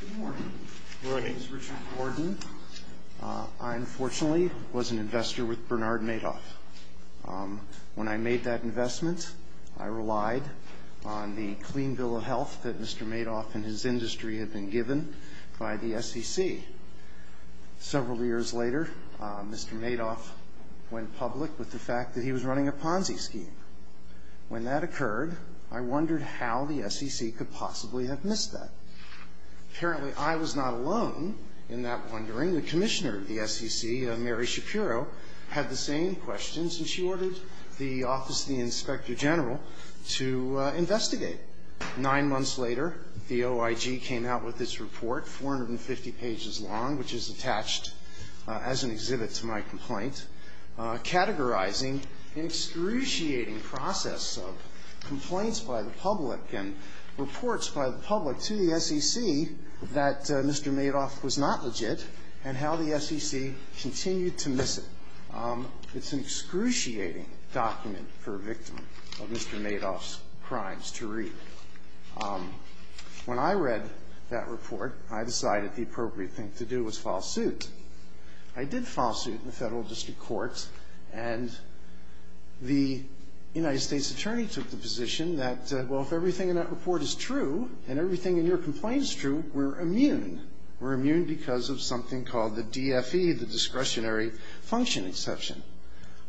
Good morning. My name is Richard Gordon. I unfortunately was an investor with Bernard Madoff. When I made that investment I relied on the Clean Bill of Health that Mr. Madoff and his industry had been given by the SEC. Several years later Mr. Madoff went public with the fact that he was running a Ponzi scheme. When that Apparently I was not alone in that wondering. The commissioner of the SEC, Mary Shapiro, had the same questions and she ordered the Office of the Inspector General to investigate. Nine months later the OIG came out with this report, 450 pages long, which is attached as an exhibit to my complaint, categorizing an excruciating process of complaints by the public and reports by the public to the SEC that Mr. Madoff was not legit and how the SEC continued to miss it. It's an excruciating document for a victim of Mr. Madoff's crimes to read. When I read that report I decided the appropriate thing to do was file suit. I did file suit in the federal district courts and the United States Attorney took the position that well if everything in that report is true and everything in your complaint is true, we're immune. We're immune because of something called the DFE, the discretionary function exception.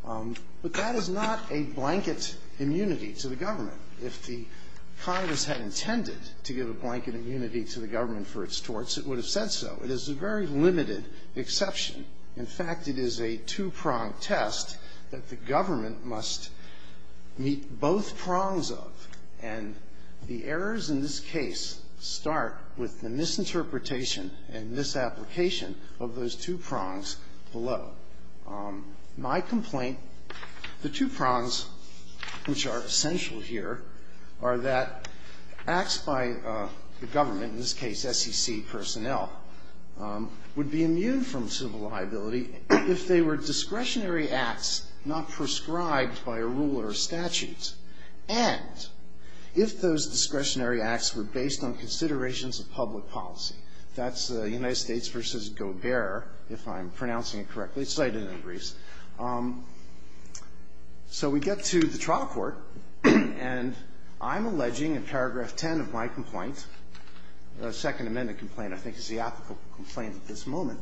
But that is not a blanket immunity to the government. If the Congress had intended to give a blanket immunity to the government for its torts, it would have said so. It is a very limited exception. In fact, it is a two-pronged test that the government must meet both prongs of, and the errors in this case start with the misinterpretation and misapplication of those two prongs below. My complaint, the two prongs which are essential here, are that acts by the government, in this case SEC personnel, would be immune from civil liability if they were discretionary acts not prescribed by a rule or a statute, and if those discretionary acts were based on considerations of public policy. That's United States v. Gobert, if I'm pronouncing it correctly. It's cited in the briefs. So we get to the trial court, and I'm alleging in paragraph 10 of my complaint, the Second Amendment complaint I think is the ethical complaint at this moment,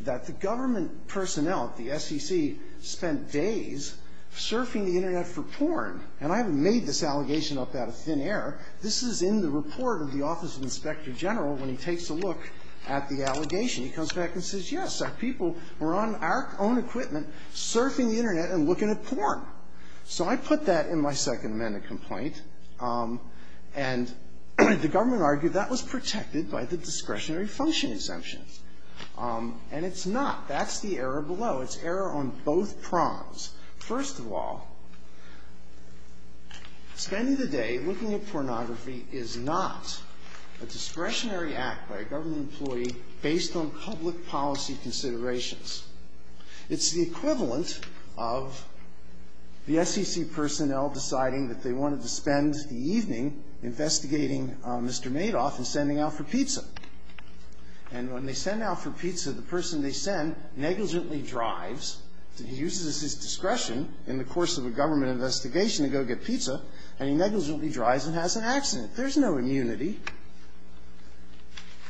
that the government personnel, the SEC, spent days surfing the Internet for porn. And I haven't made this allegation up out of thin air. This is in the report of the Office of Inspector General when he takes a look at the allegation. He comes back and says, yes, our people were on our own equipment surfing the Internet and looking at porn. So I put that in my Second Amendment complaint, and the government argued that was protected by the discretionary function exemptions. And it's not. That's the error below. It's error on both prongs. First of all, spending the day looking at pornography is not a discretionary act by a government employee based on public policy considerations. It's the equivalent of the SEC personnel deciding that they wanted to spend the evening investigating Mr. Madoff and sending out for pizza. And when they send out for pizza, the person they send negligently drives. He uses his discretion in the course of a government investigation to go get pizza, and he negligently drives and has an accident. There's no immunity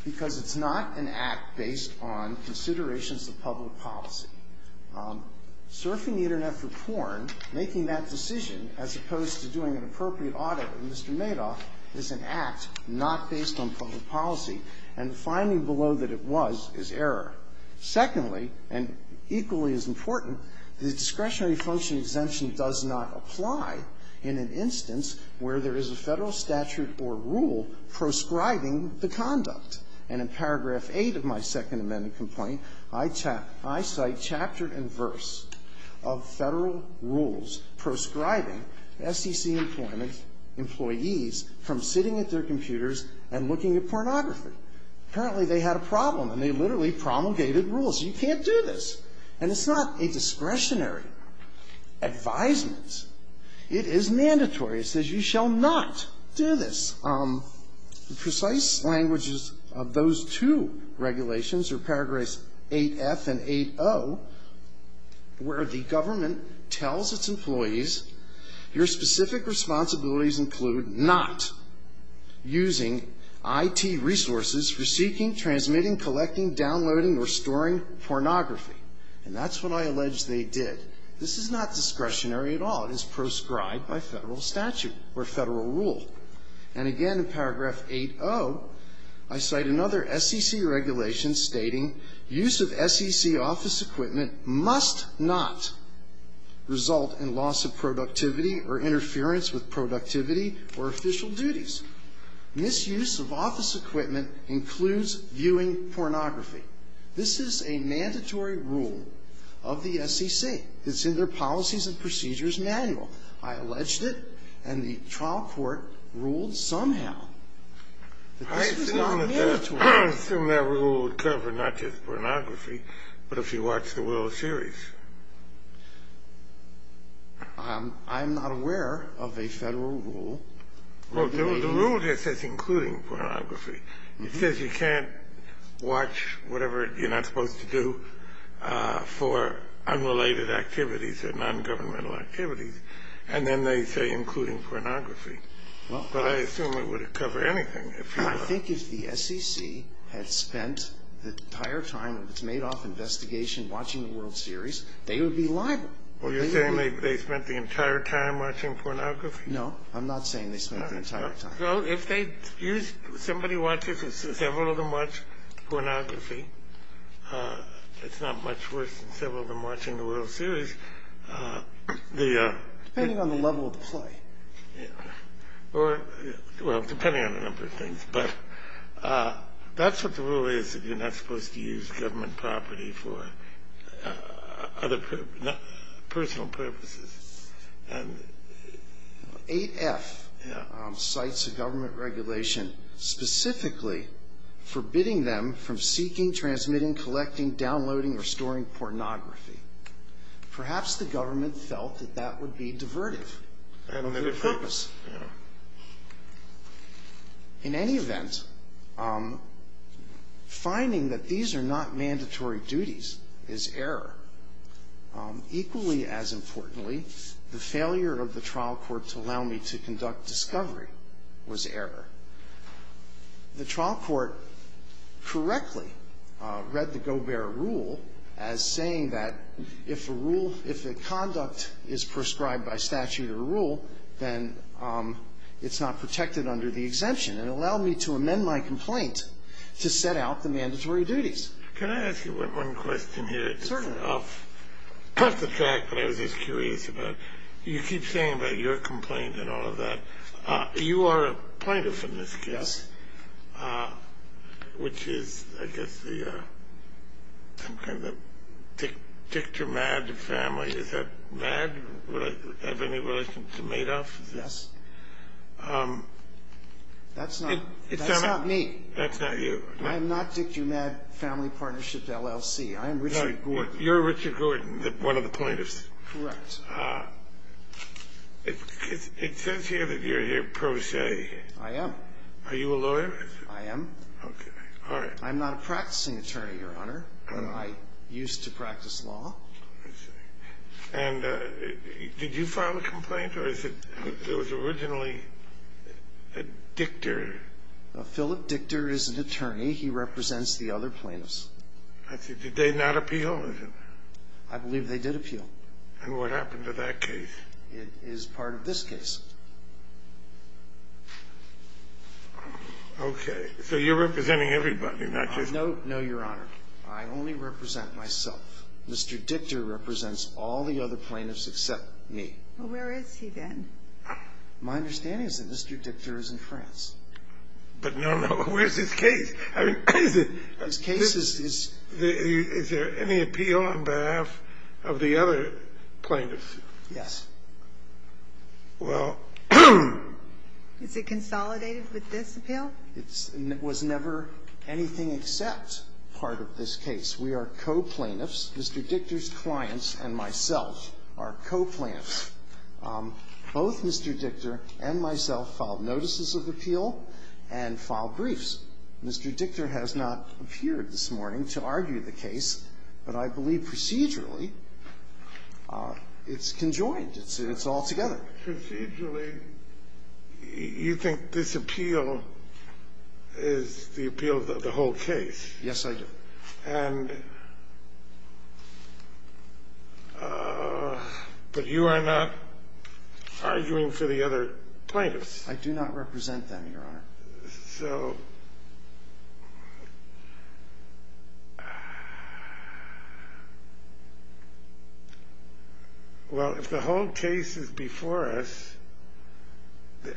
because it's not an act based on considerations of public policy. Surfing the Internet for porn, making that decision, as opposed to doing an appropriate audit of Mr. Madoff, is an act not based on public policy, and the finding below that it was is error. Secondly, and equally as important, the discretionary function exemption does not apply in an instance where there is a Federal statute or rule proscribing the conduct. And in paragraph 8 of my Second Amendment complaint, I cite chapter and verse of Federal rules proscribing SEC employment employees from sitting at their computers and looking at pornography. Apparently, they had a problem, and they literally promulgated rules. You can't do this. And it's not a discretionary advisement. It is mandatory. It says you shall not do this. The precise languages of those two regulations are paragraphs 8F and 8O, where the government tells its employees, your specific responsibilities include not using I.T. resources for seeking, transmitting, collecting, downloading, or storing pornography. And that's what I allege they did. This is not discretionary at all. It is proscribed by Federal statute or Federal rule. And again, in paragraph 8O, I cite another SEC regulation stating use of SEC office equipment must not result in loss of productivity or interference with productivity or official duties. Misuse of office equipment includes viewing pornography. This is a mandatory rule of the SEC. It's in their Policies and Procedures Manual. I alleged it, and the trial court ruled somehow that this was not mandatory. I assume that rule would cover not just pornography, but if you watch the World Series. I'm not aware of a Federal rule. Well, the rule there says including pornography. It says you can't watch whatever you're not supposed to do for unrelated activities or nongovernmental activities. And then they say including pornography. But I assume it would cover anything. I think if the SEC had spent the entire time of its Madoff investigation watching the World Series, they would be liable. Well, you're saying they spent the entire time watching pornography? No, I'm not saying they spent the entire time. It's not much worse than several of them watching the World Series. Depending on the level of the play. Well, depending on a number of things. But that's what the rule is, that you're not supposed to use government property for other personal purposes. 8F cites a government regulation specifically forbidding them from seeking, transmitting, collecting, downloading, or storing pornography. Perhaps the government felt that that would be divertive. In any event, finding that these are not mandatory duties is error. Equally as importantly, the failure of the trial court to allow me to conduct discovery was error. The trial court correctly read the rule, then it's not protected under the exemption. It allowed me to amend my complaint to set out the mandatory duties. Can I ask you one question here? You keep saying about your complaint and all of that. You are a plaintiff in this case, which is I guess the Dictor Madd family. Is that Madd? Do I have any relation to Madoff? Yes. That's not me. That's not you. I'm not Dictor Madd Family Partnership LLC. You're Richard Gordon, one of the plaintiffs. Correct. It says here that you're here pro se. I am. Are you a lawyer? I am. I'm not a practicing attorney, Your Honor. I used to practice law. Did you file a complaint? Or was it originally a Dictor? Phillip Dictor is an attorney. He represents the other plaintiffs. Did they not appeal? I believe they did appeal. And what happened to that case? It is part of this case. Okay. So you're representing everybody, not just me. No, Your Honor. I only represent myself. Mr. Dictor represents all the other plaintiffs except me. Well, where is he then? My understanding is that Mr. Dictor is in France. But no, no. Where's his case? I mean, is there any appeal on behalf of the other plaintiffs? Yes. Is it consolidated with this appeal? It was never anything except part of this case. We are co-plaintiffs. Mr. Dictor's clients and myself are co-plaintiffs. Both Mr. Dictor and myself filed notices of appeal and filed briefs. Mr. Dictor has not appeared this morning to argue the case, but I believe procedurally it's conjoined. It's all together. Procedurally, you think this appeal is the appeal of the whole case? Yes, I do. But you are not arguing for the other plaintiffs? I do not represent them, Your Honor. So... Well, if the whole case is before us,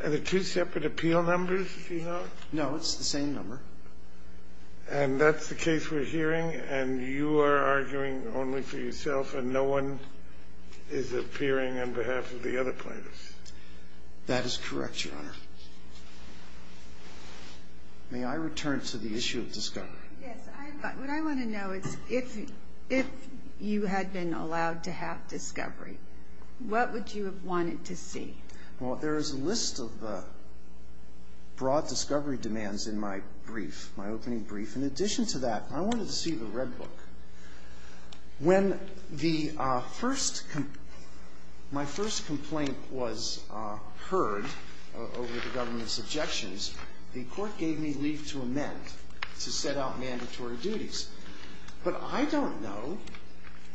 are there two separate appeal numbers, do you know? No, it's the same number. And that's the case we're hearing, and you are arguing only for yourself and no one is appearing on behalf of the other plaintiffs? That is correct, Your Honor. May I return to the issue of discovery? Yes. What I want to know is if you had been allowed to have discovery, what would you have wanted to see? Well, there is a list of broad discovery demands in my brief, my opening brief. In addition to that, I wanted to see the red book. When the first complaint was heard over the government's objections, the court gave me leave to amend, to set out mandatory duties. But I don't know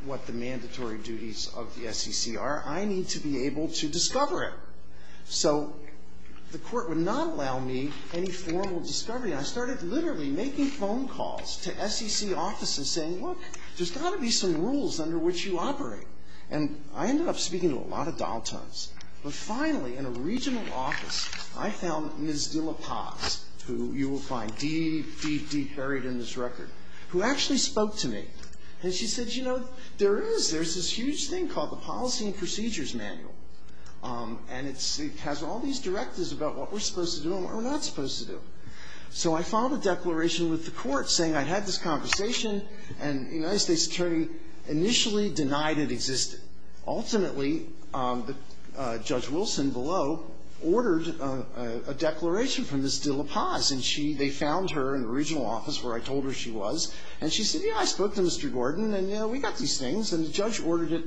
what the mandatory duties of the SEC are. I need to be able to discover it. So the court would not allow me any formal discovery. I started literally making phone calls to SEC offices saying, look, there's got to be some rules under which you operate. And I ended up speaking to a lot of dial tones. But finally, in a regional office, I found Ms. DeLaPaz, who you will find deep, deep, deep buried in this record, who actually spoke to me. And she said, you know, there is, there's this huge thing called the Policy and Procedures Manual. And it has all these directives about what we're supposed to do and what we're not supposed to do. So I filed a declaration with the court saying I'd had this conversation, and the United States Attorney initially denied it existed. Ultimately, Judge Wilson below ordered a declaration from Ms. DeLaPaz. And she, they found her in the regional office where I told her she was. And she said, yeah, I spoke to Mr. Gordon, and, you know, we got these things. And the judge ordered it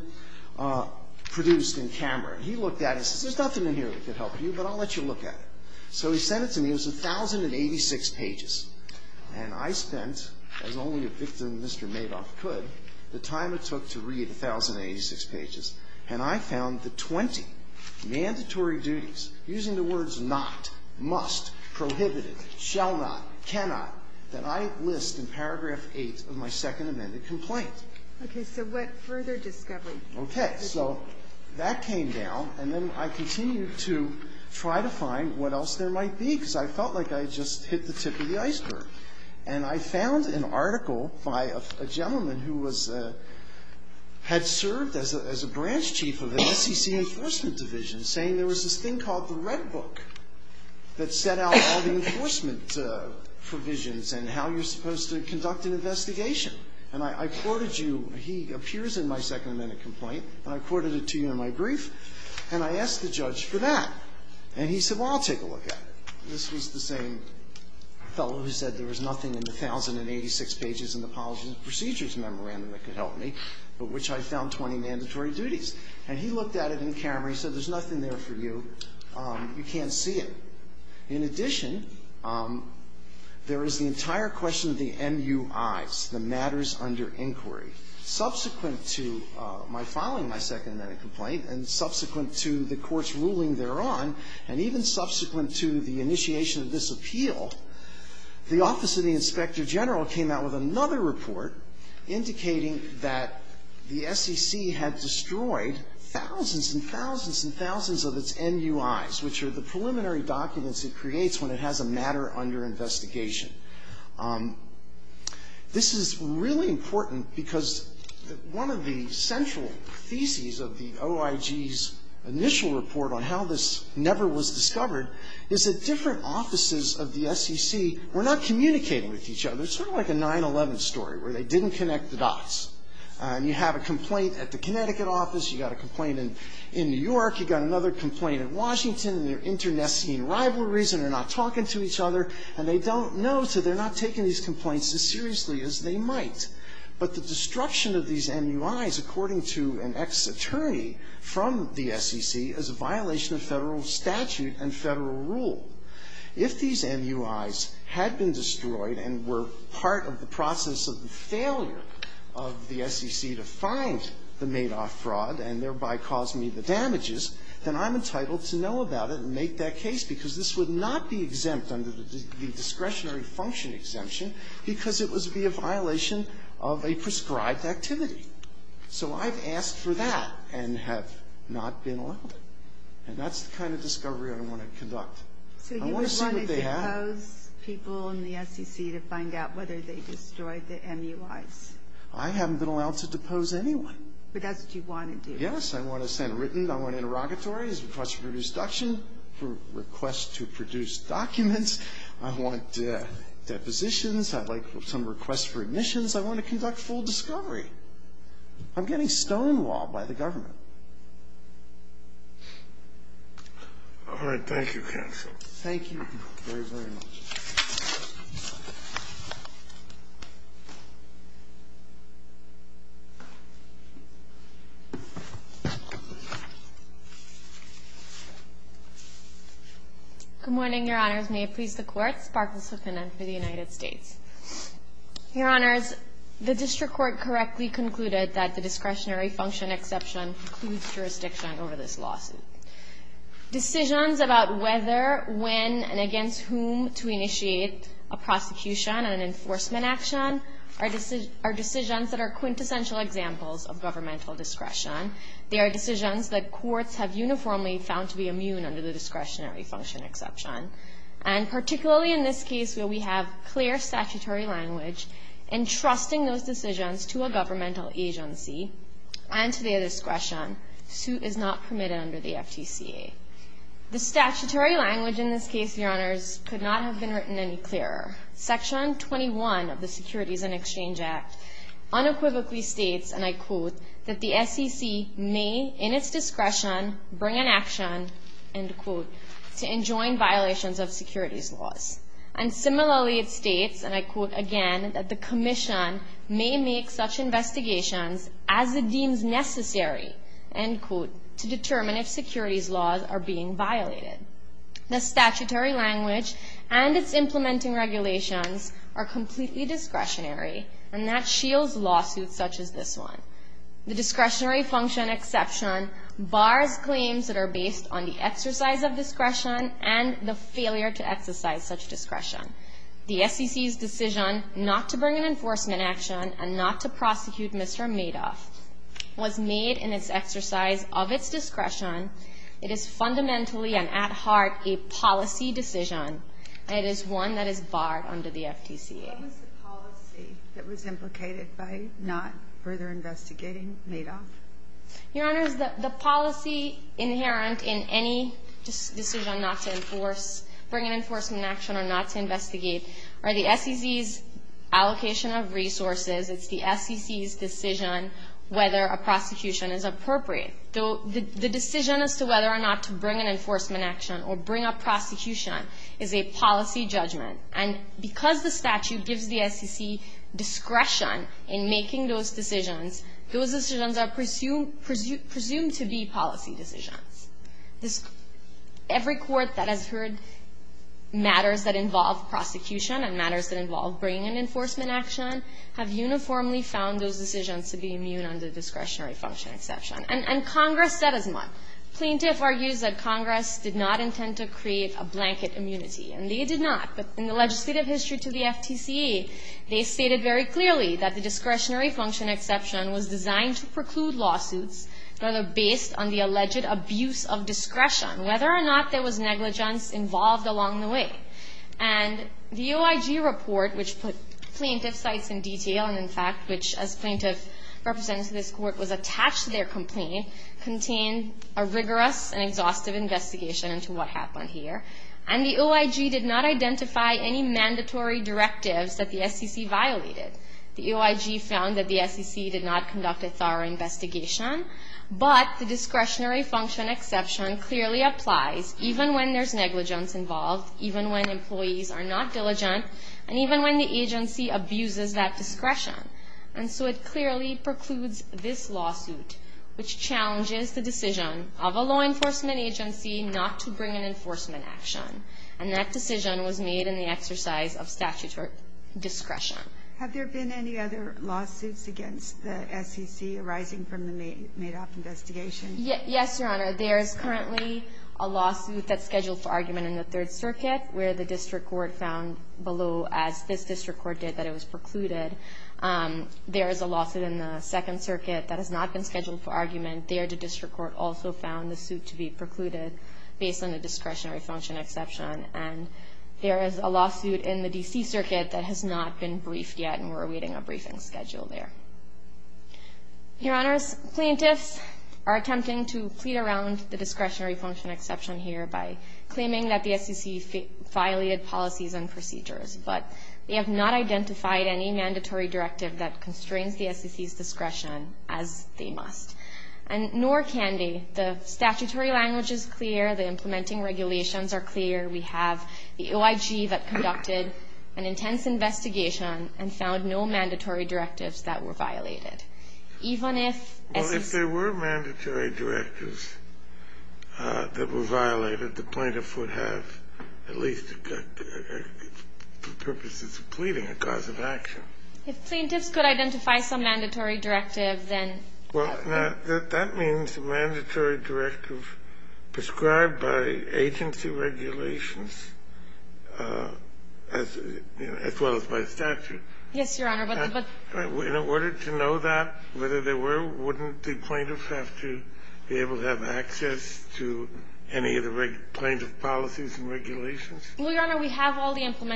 produced in camera. He looked at it and said, there's nothing in here that could help you, but I'll let you look at it. So he sent it to me. It was 1,086 pages. And I spent, as only a victim, Mr. Madoff, could, the time it took to read 1,086 pages. And I found the 20 mandatory duties, using the words not, must, prohibited, shall not, cannot, that I list in Paragraph 8 of my Second Amendment complaint. Okay. So what further discovery? Okay. So that came down, and then I continued to try to find what else there might be, because I felt like I had just hit the tip of the iceberg. And I found an article by a gentleman who was, had served as a branch chief of the SEC Enforcement Division, saying there was this thing called the Red Book that set out all the enforcement provisions and how you're supposed to conduct an investigation. And I quoted you. He appears in my Second Amendment complaint, and I quoted it to you in my brief. And I asked the judge for that. And he said, well, I'll take a look at it. This was the same fellow who said there was nothing in the 1,086 pages in the Apologies and Procedures Memorandum that could help me, but which I found 20 mandatory duties. And he looked at it in camera, and he said, there's nothing there for you. You can't see it. In addition, there is the entire question of the MUIs, the matters under inquiry. Subsequent to my filing my Second Amendment complaint, and subsequent to the court's ruling thereon, and even subsequent to the initiation of this appeal, the Office of the Inspector General came out with another report indicating that the SEC had destroyed thousands and thousands and thousands of its MUIs, which are the preliminary MUIs. And it's really important because one of the central theses of the OIG's initial report on how this never was discovered is that different offices of the SEC were not communicating with each other, sort of like a 9-11 story where they didn't connect the dots. And you have a complaint at the Connecticut office. You've got a complaint in New York. You've got another complaint in Washington, and they're internecine rivalries, and they're not talking to each other, and they don't know, so they're not taking these complaints as seriously as they might. But the destruction of these MUIs, according to an ex-attorney from the SEC, is a violation of Federal statute and Federal rule. If these MUIs had been destroyed and were part of the process of the failure of the SEC to find the Madoff fraud and thereby cause me the damages, then I'm entitled to know about it and make that case because this would not be exempt under the discretionary function exemption because it would be a violation of a prescribed activity. So I've asked for that and have not been allowed. And that's the kind of discovery I want to do. Yes, I want to send written, I want interrogatories, request for destruction, request to produce documents, I want depositions, I'd like some requests for admissions, I want to conduct full discovery. I'm getting stonewalled by the government. All right. Thank you, counsel. Thank you very, very much. Good morning, Your Honors. May it please the Court, Sparkles Huffington for the United States. Your Honors, the District Court correctly concluded that the discretionary function exemption includes jurisdiction over this lawsuit. Decisions about whether, when, and against whom to initiate a prosecution and an enforcement action are subject to discretionary function exemption. Discretionary function exemptions are decisions that are quintessential examples of governmental discretion. They are decisions that courts have uniformly found to be immune under the discretionary function exception. And particularly in this case where we have clear statutory language, entrusting those decisions to a governmental agency and to their discretion, the suit is not permitted under the FTCA. The statutory language in this case, Your Honors, could not have been written any clearer. Section 21 of the Securities and Exchange Act unequivocally states, and I quote, that the SEC may, in its discretion, bring an action, end quote, to enjoin violations of securities laws. And similarly it states, and I quote again, that the Commission may make such investigations as it deems necessary, end quote, to determine if securities laws are being violated. The statutory language and its implementing regulations are completely discretionary and that shields lawsuits such as this one. The discretionary function exception bars claims that are based on the exercise of discretion and the failure to exercise such discretion. The SEC's decision not to bring an enforcement action and not to prosecute Mr. Madoff was made in its exercise of its discretion. It is fundamentally and at heart a policy decision and it is one that is barred under the FTCA. What was the policy that was implicated by not further investigating Madoff? Your Honors, the policy inherent in any decision not to enforce bring an enforcement action or not to investigate are the SEC's allocation of resources. It's the SEC's decision whether a prosecution is appropriate. The decision as to whether or not to bring an enforcement action or bring a prosecution is a policy judgment. And because the statute gives the SEC discretion in making those decisions, those decisions are presumed to be policy decisions. Every court that has heard matters that involve prosecution and matters that involve bringing an enforcement action have uniformly found those decisions to be immune under discretionary function exception. And Congress said as much. Plaintiff argues that Congress did not intend to create a blanket immunity. And they did not. But in the legislative history to the FTCA, they stated very clearly that the discretionary function exception was designed to preclude lawsuits rather based on the alleged abuse of discretion, whether or not there was negligence involved along the way. And the OIG report, which put plaintiff sites in detail and in fact, which as plaintiff represented to this Court, was a rigorous and exhaustive investigation into what happened here. And the OIG did not identify any mandatory directives that the SEC violated. The OIG found that the SEC did not conduct a thorough investigation. But the discretionary function exception clearly applies even when there's negligence involved, even when employees are not diligent, and even when the agency abuses that discretion. And so it clearly precludes this lawsuit which challenges the decision of a law enforcement agency not to bring an enforcement action. And that decision was made in the exercise of statutory discretion. Have there been any other lawsuits against the SEC arising from the Madoff investigation? Yes, Your Honor. There's currently a lawsuit that's scheduled for argument in the Third Circuit where the district court found below as this district court did that it was precluded. There is a lawsuit in the Second Circuit that has not been scheduled for argument. There the district court also found the suit to be precluded based on the discretionary function exception. And there is a lawsuit in the D.C. Circuit that has not been briefed yet, and we're awaiting a briefing schedule there. Your Honors, plaintiffs are attempting to plead around the discretionary function exception here by claiming that the SEC violated policies and procedures. But they have not identified any mandatory directive that constrains the SEC's discretion as they must. And nor can they. The statutory language is clear. The implementing regulations are clear. We have the OIG that conducted an intense investigation and found no mandatory directives that were violated. Even if SEC... Well, if there were mandatory directives that were violated, the plaintiff would have at least purposes of pleading a cause of action. If plaintiffs could identify some mandatory directive, then... Well, now, that means a mandatory directive prescribed by agency regulations as well as by statute. Yes, Your Honor, but... In order to know that, whether there were, wouldn't the plaintiff have to be able to have access to any of the plaintiff policies and regulations? Well, Your Honor, we have all the section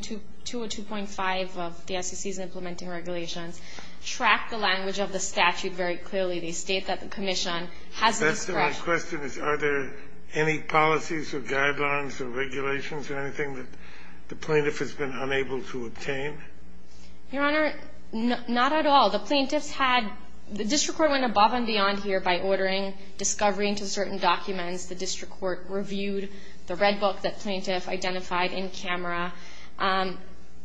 202.5 of the SEC's implementing regulations track the language of the statute very clearly. They state that the commission has discretion... That's my question, is are there any policies or guidelines or regulations or anything that the plaintiff has been unable to obtain? Your Honor, not at all. The plaintiffs had... The district court went above and beyond here by ordering discovery into certain documents. The district court reviewed the red book that plaintiff identified in camera.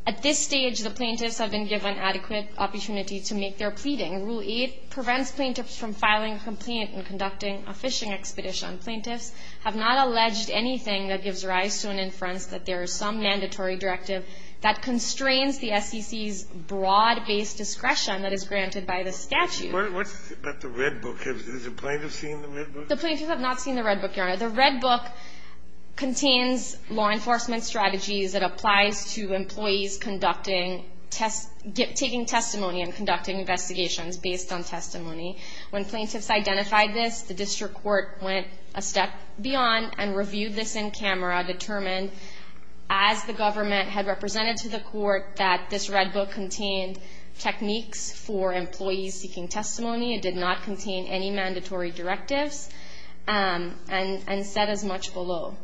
At this stage, the plaintiffs have been given adequate opportunity to make their pleading. Rule 8 prevents plaintiffs from filing a complaint and conducting a fishing expedition. Plaintiffs have not alleged anything that gives rise to an inference that there is some mandatory directive that constrains the SEC's broad based discretion that is granted by the statute. But the red book, has the plaintiff seen the red book? The plaintiffs have not seen the red book, Your Honor. The red book contains law enforcement strategies that applies to employees conducting... Taking testimony and conducting investigations based on testimony. When plaintiffs identified this, the district court went a step beyond and reviewed this in camera determined as the government had represented to the court that this red book contained techniques for employees seeking testimony. It did not contain any mandatory directives and said as much below.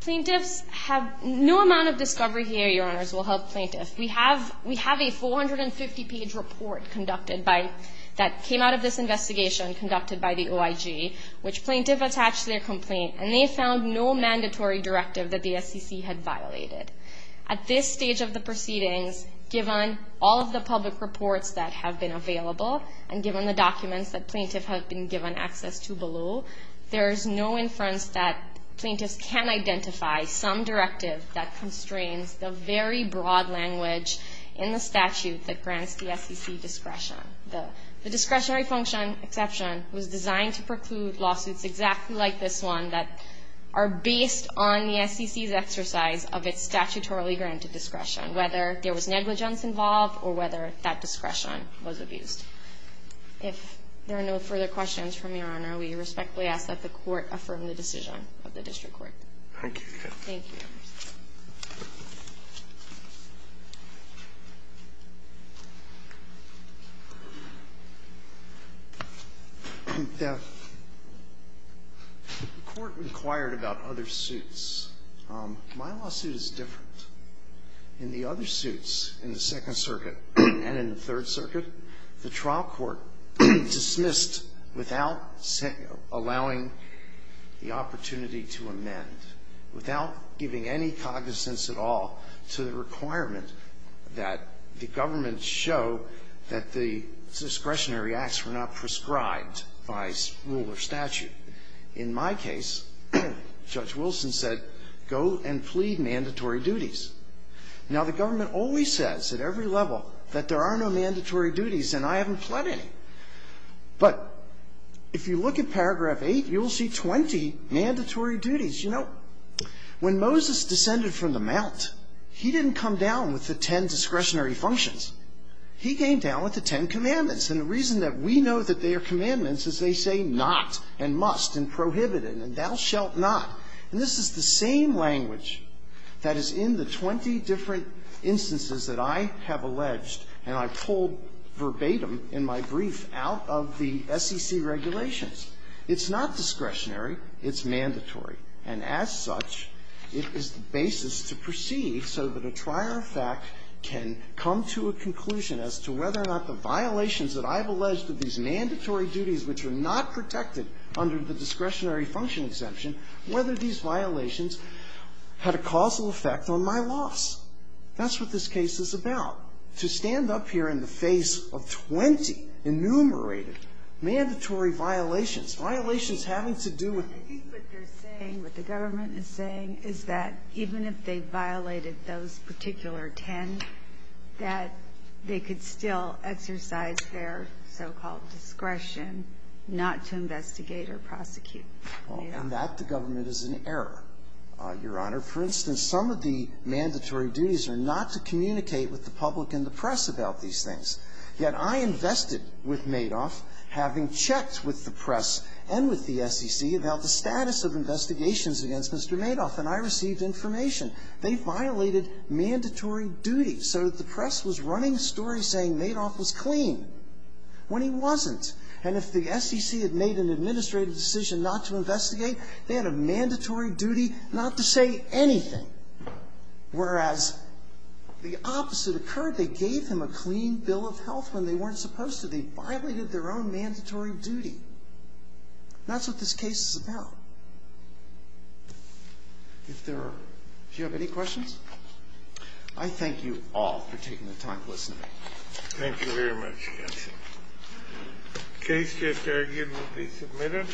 Plaintiffs have... No amount of discovery here, Your Honors, will help plaintiffs. We have a 450 page report conducted by... That came out of this investigation conducted by the OIG, which plaintiff attached their complaint and they found no mandatory directive that the SEC had violated. At this stage of the proceedings, given all of the public reports that have been available and given the documents that plaintiff has been given access to below, there is no inference that plaintiffs can identify some directive that constrains the very broad language in the statute that grants the SEC discretion. The discretionary function exception was designed to preclude lawsuits exactly like this one that are based on the SEC's exercise of its statutorily granted discretion. Whether there was negligence involved or whether that discretion was abused. If there are no further questions from Your Honor, we respectfully ask that the court affirm the decision of the District Court. Thank you. Thank you. The court inquired about other suits. My lawsuit is different. In the other suits in the Second Circuit and in the Third Circuit, the trial court dismissed without allowing the opportunity to amend, without giving any cognizance at all to the requirement that the government show that the discretionary acts were not prescribed by rule or statute. In my case, Judge Wilson said, go and plead mandatory duties. Now, the government always says at every level that there are no mandatory duties and I haven't pled any. But if you look at paragraph 8, you'll see 20 mandatory duties. You know, when Moses descended from the mount, he didn't come down with the 10 discretionary functions. He came down with the 10 commandments. And the reason that we know that they are commandments is they say not and must and prohibited and thou shalt not. And this is the same language that is in the 20 different instances that I have alleged and I pulled verbatim in my brief out of the SEC regulations. It's not discretionary. It's mandatory. And as such, it is the basis to perceive so that a trier of fact can come to a conclusion as to whether or not the violations that I have alleged of these mandatory duties which are not protected under the discretionary function exemption, whether these violations had a causal effect on my loss. That's what this case is about. To stand up here in the face of 20 enumerated mandatory violations, violations having to do with the government is saying is that even if they violated those particular 10, that they could still exercise their so-called discretion not to investigate or prosecute. And that the government is in error, Your Honor. For instance, some of the mandatory duties are not to communicate with the public and the press about these things. Yet I invested with Madoff having checked with the press and with the SEC about the status of investigations against Mr. Madoff. And I received information. They violated mandatory duties. So the press was running stories saying Madoff was clean when he wasn't. And if the SEC had made an administrative decision not to investigate, they had a mandatory duty not to say anything. Whereas the opposite occurred. They gave him a clean bill of health when they weren't supposed to. They violated their own mandatory duty. That's what this case is about. If there are any questions, I thank you all for taking the time to listen to me. Thank you very much, counsel. The case here again will be submitted.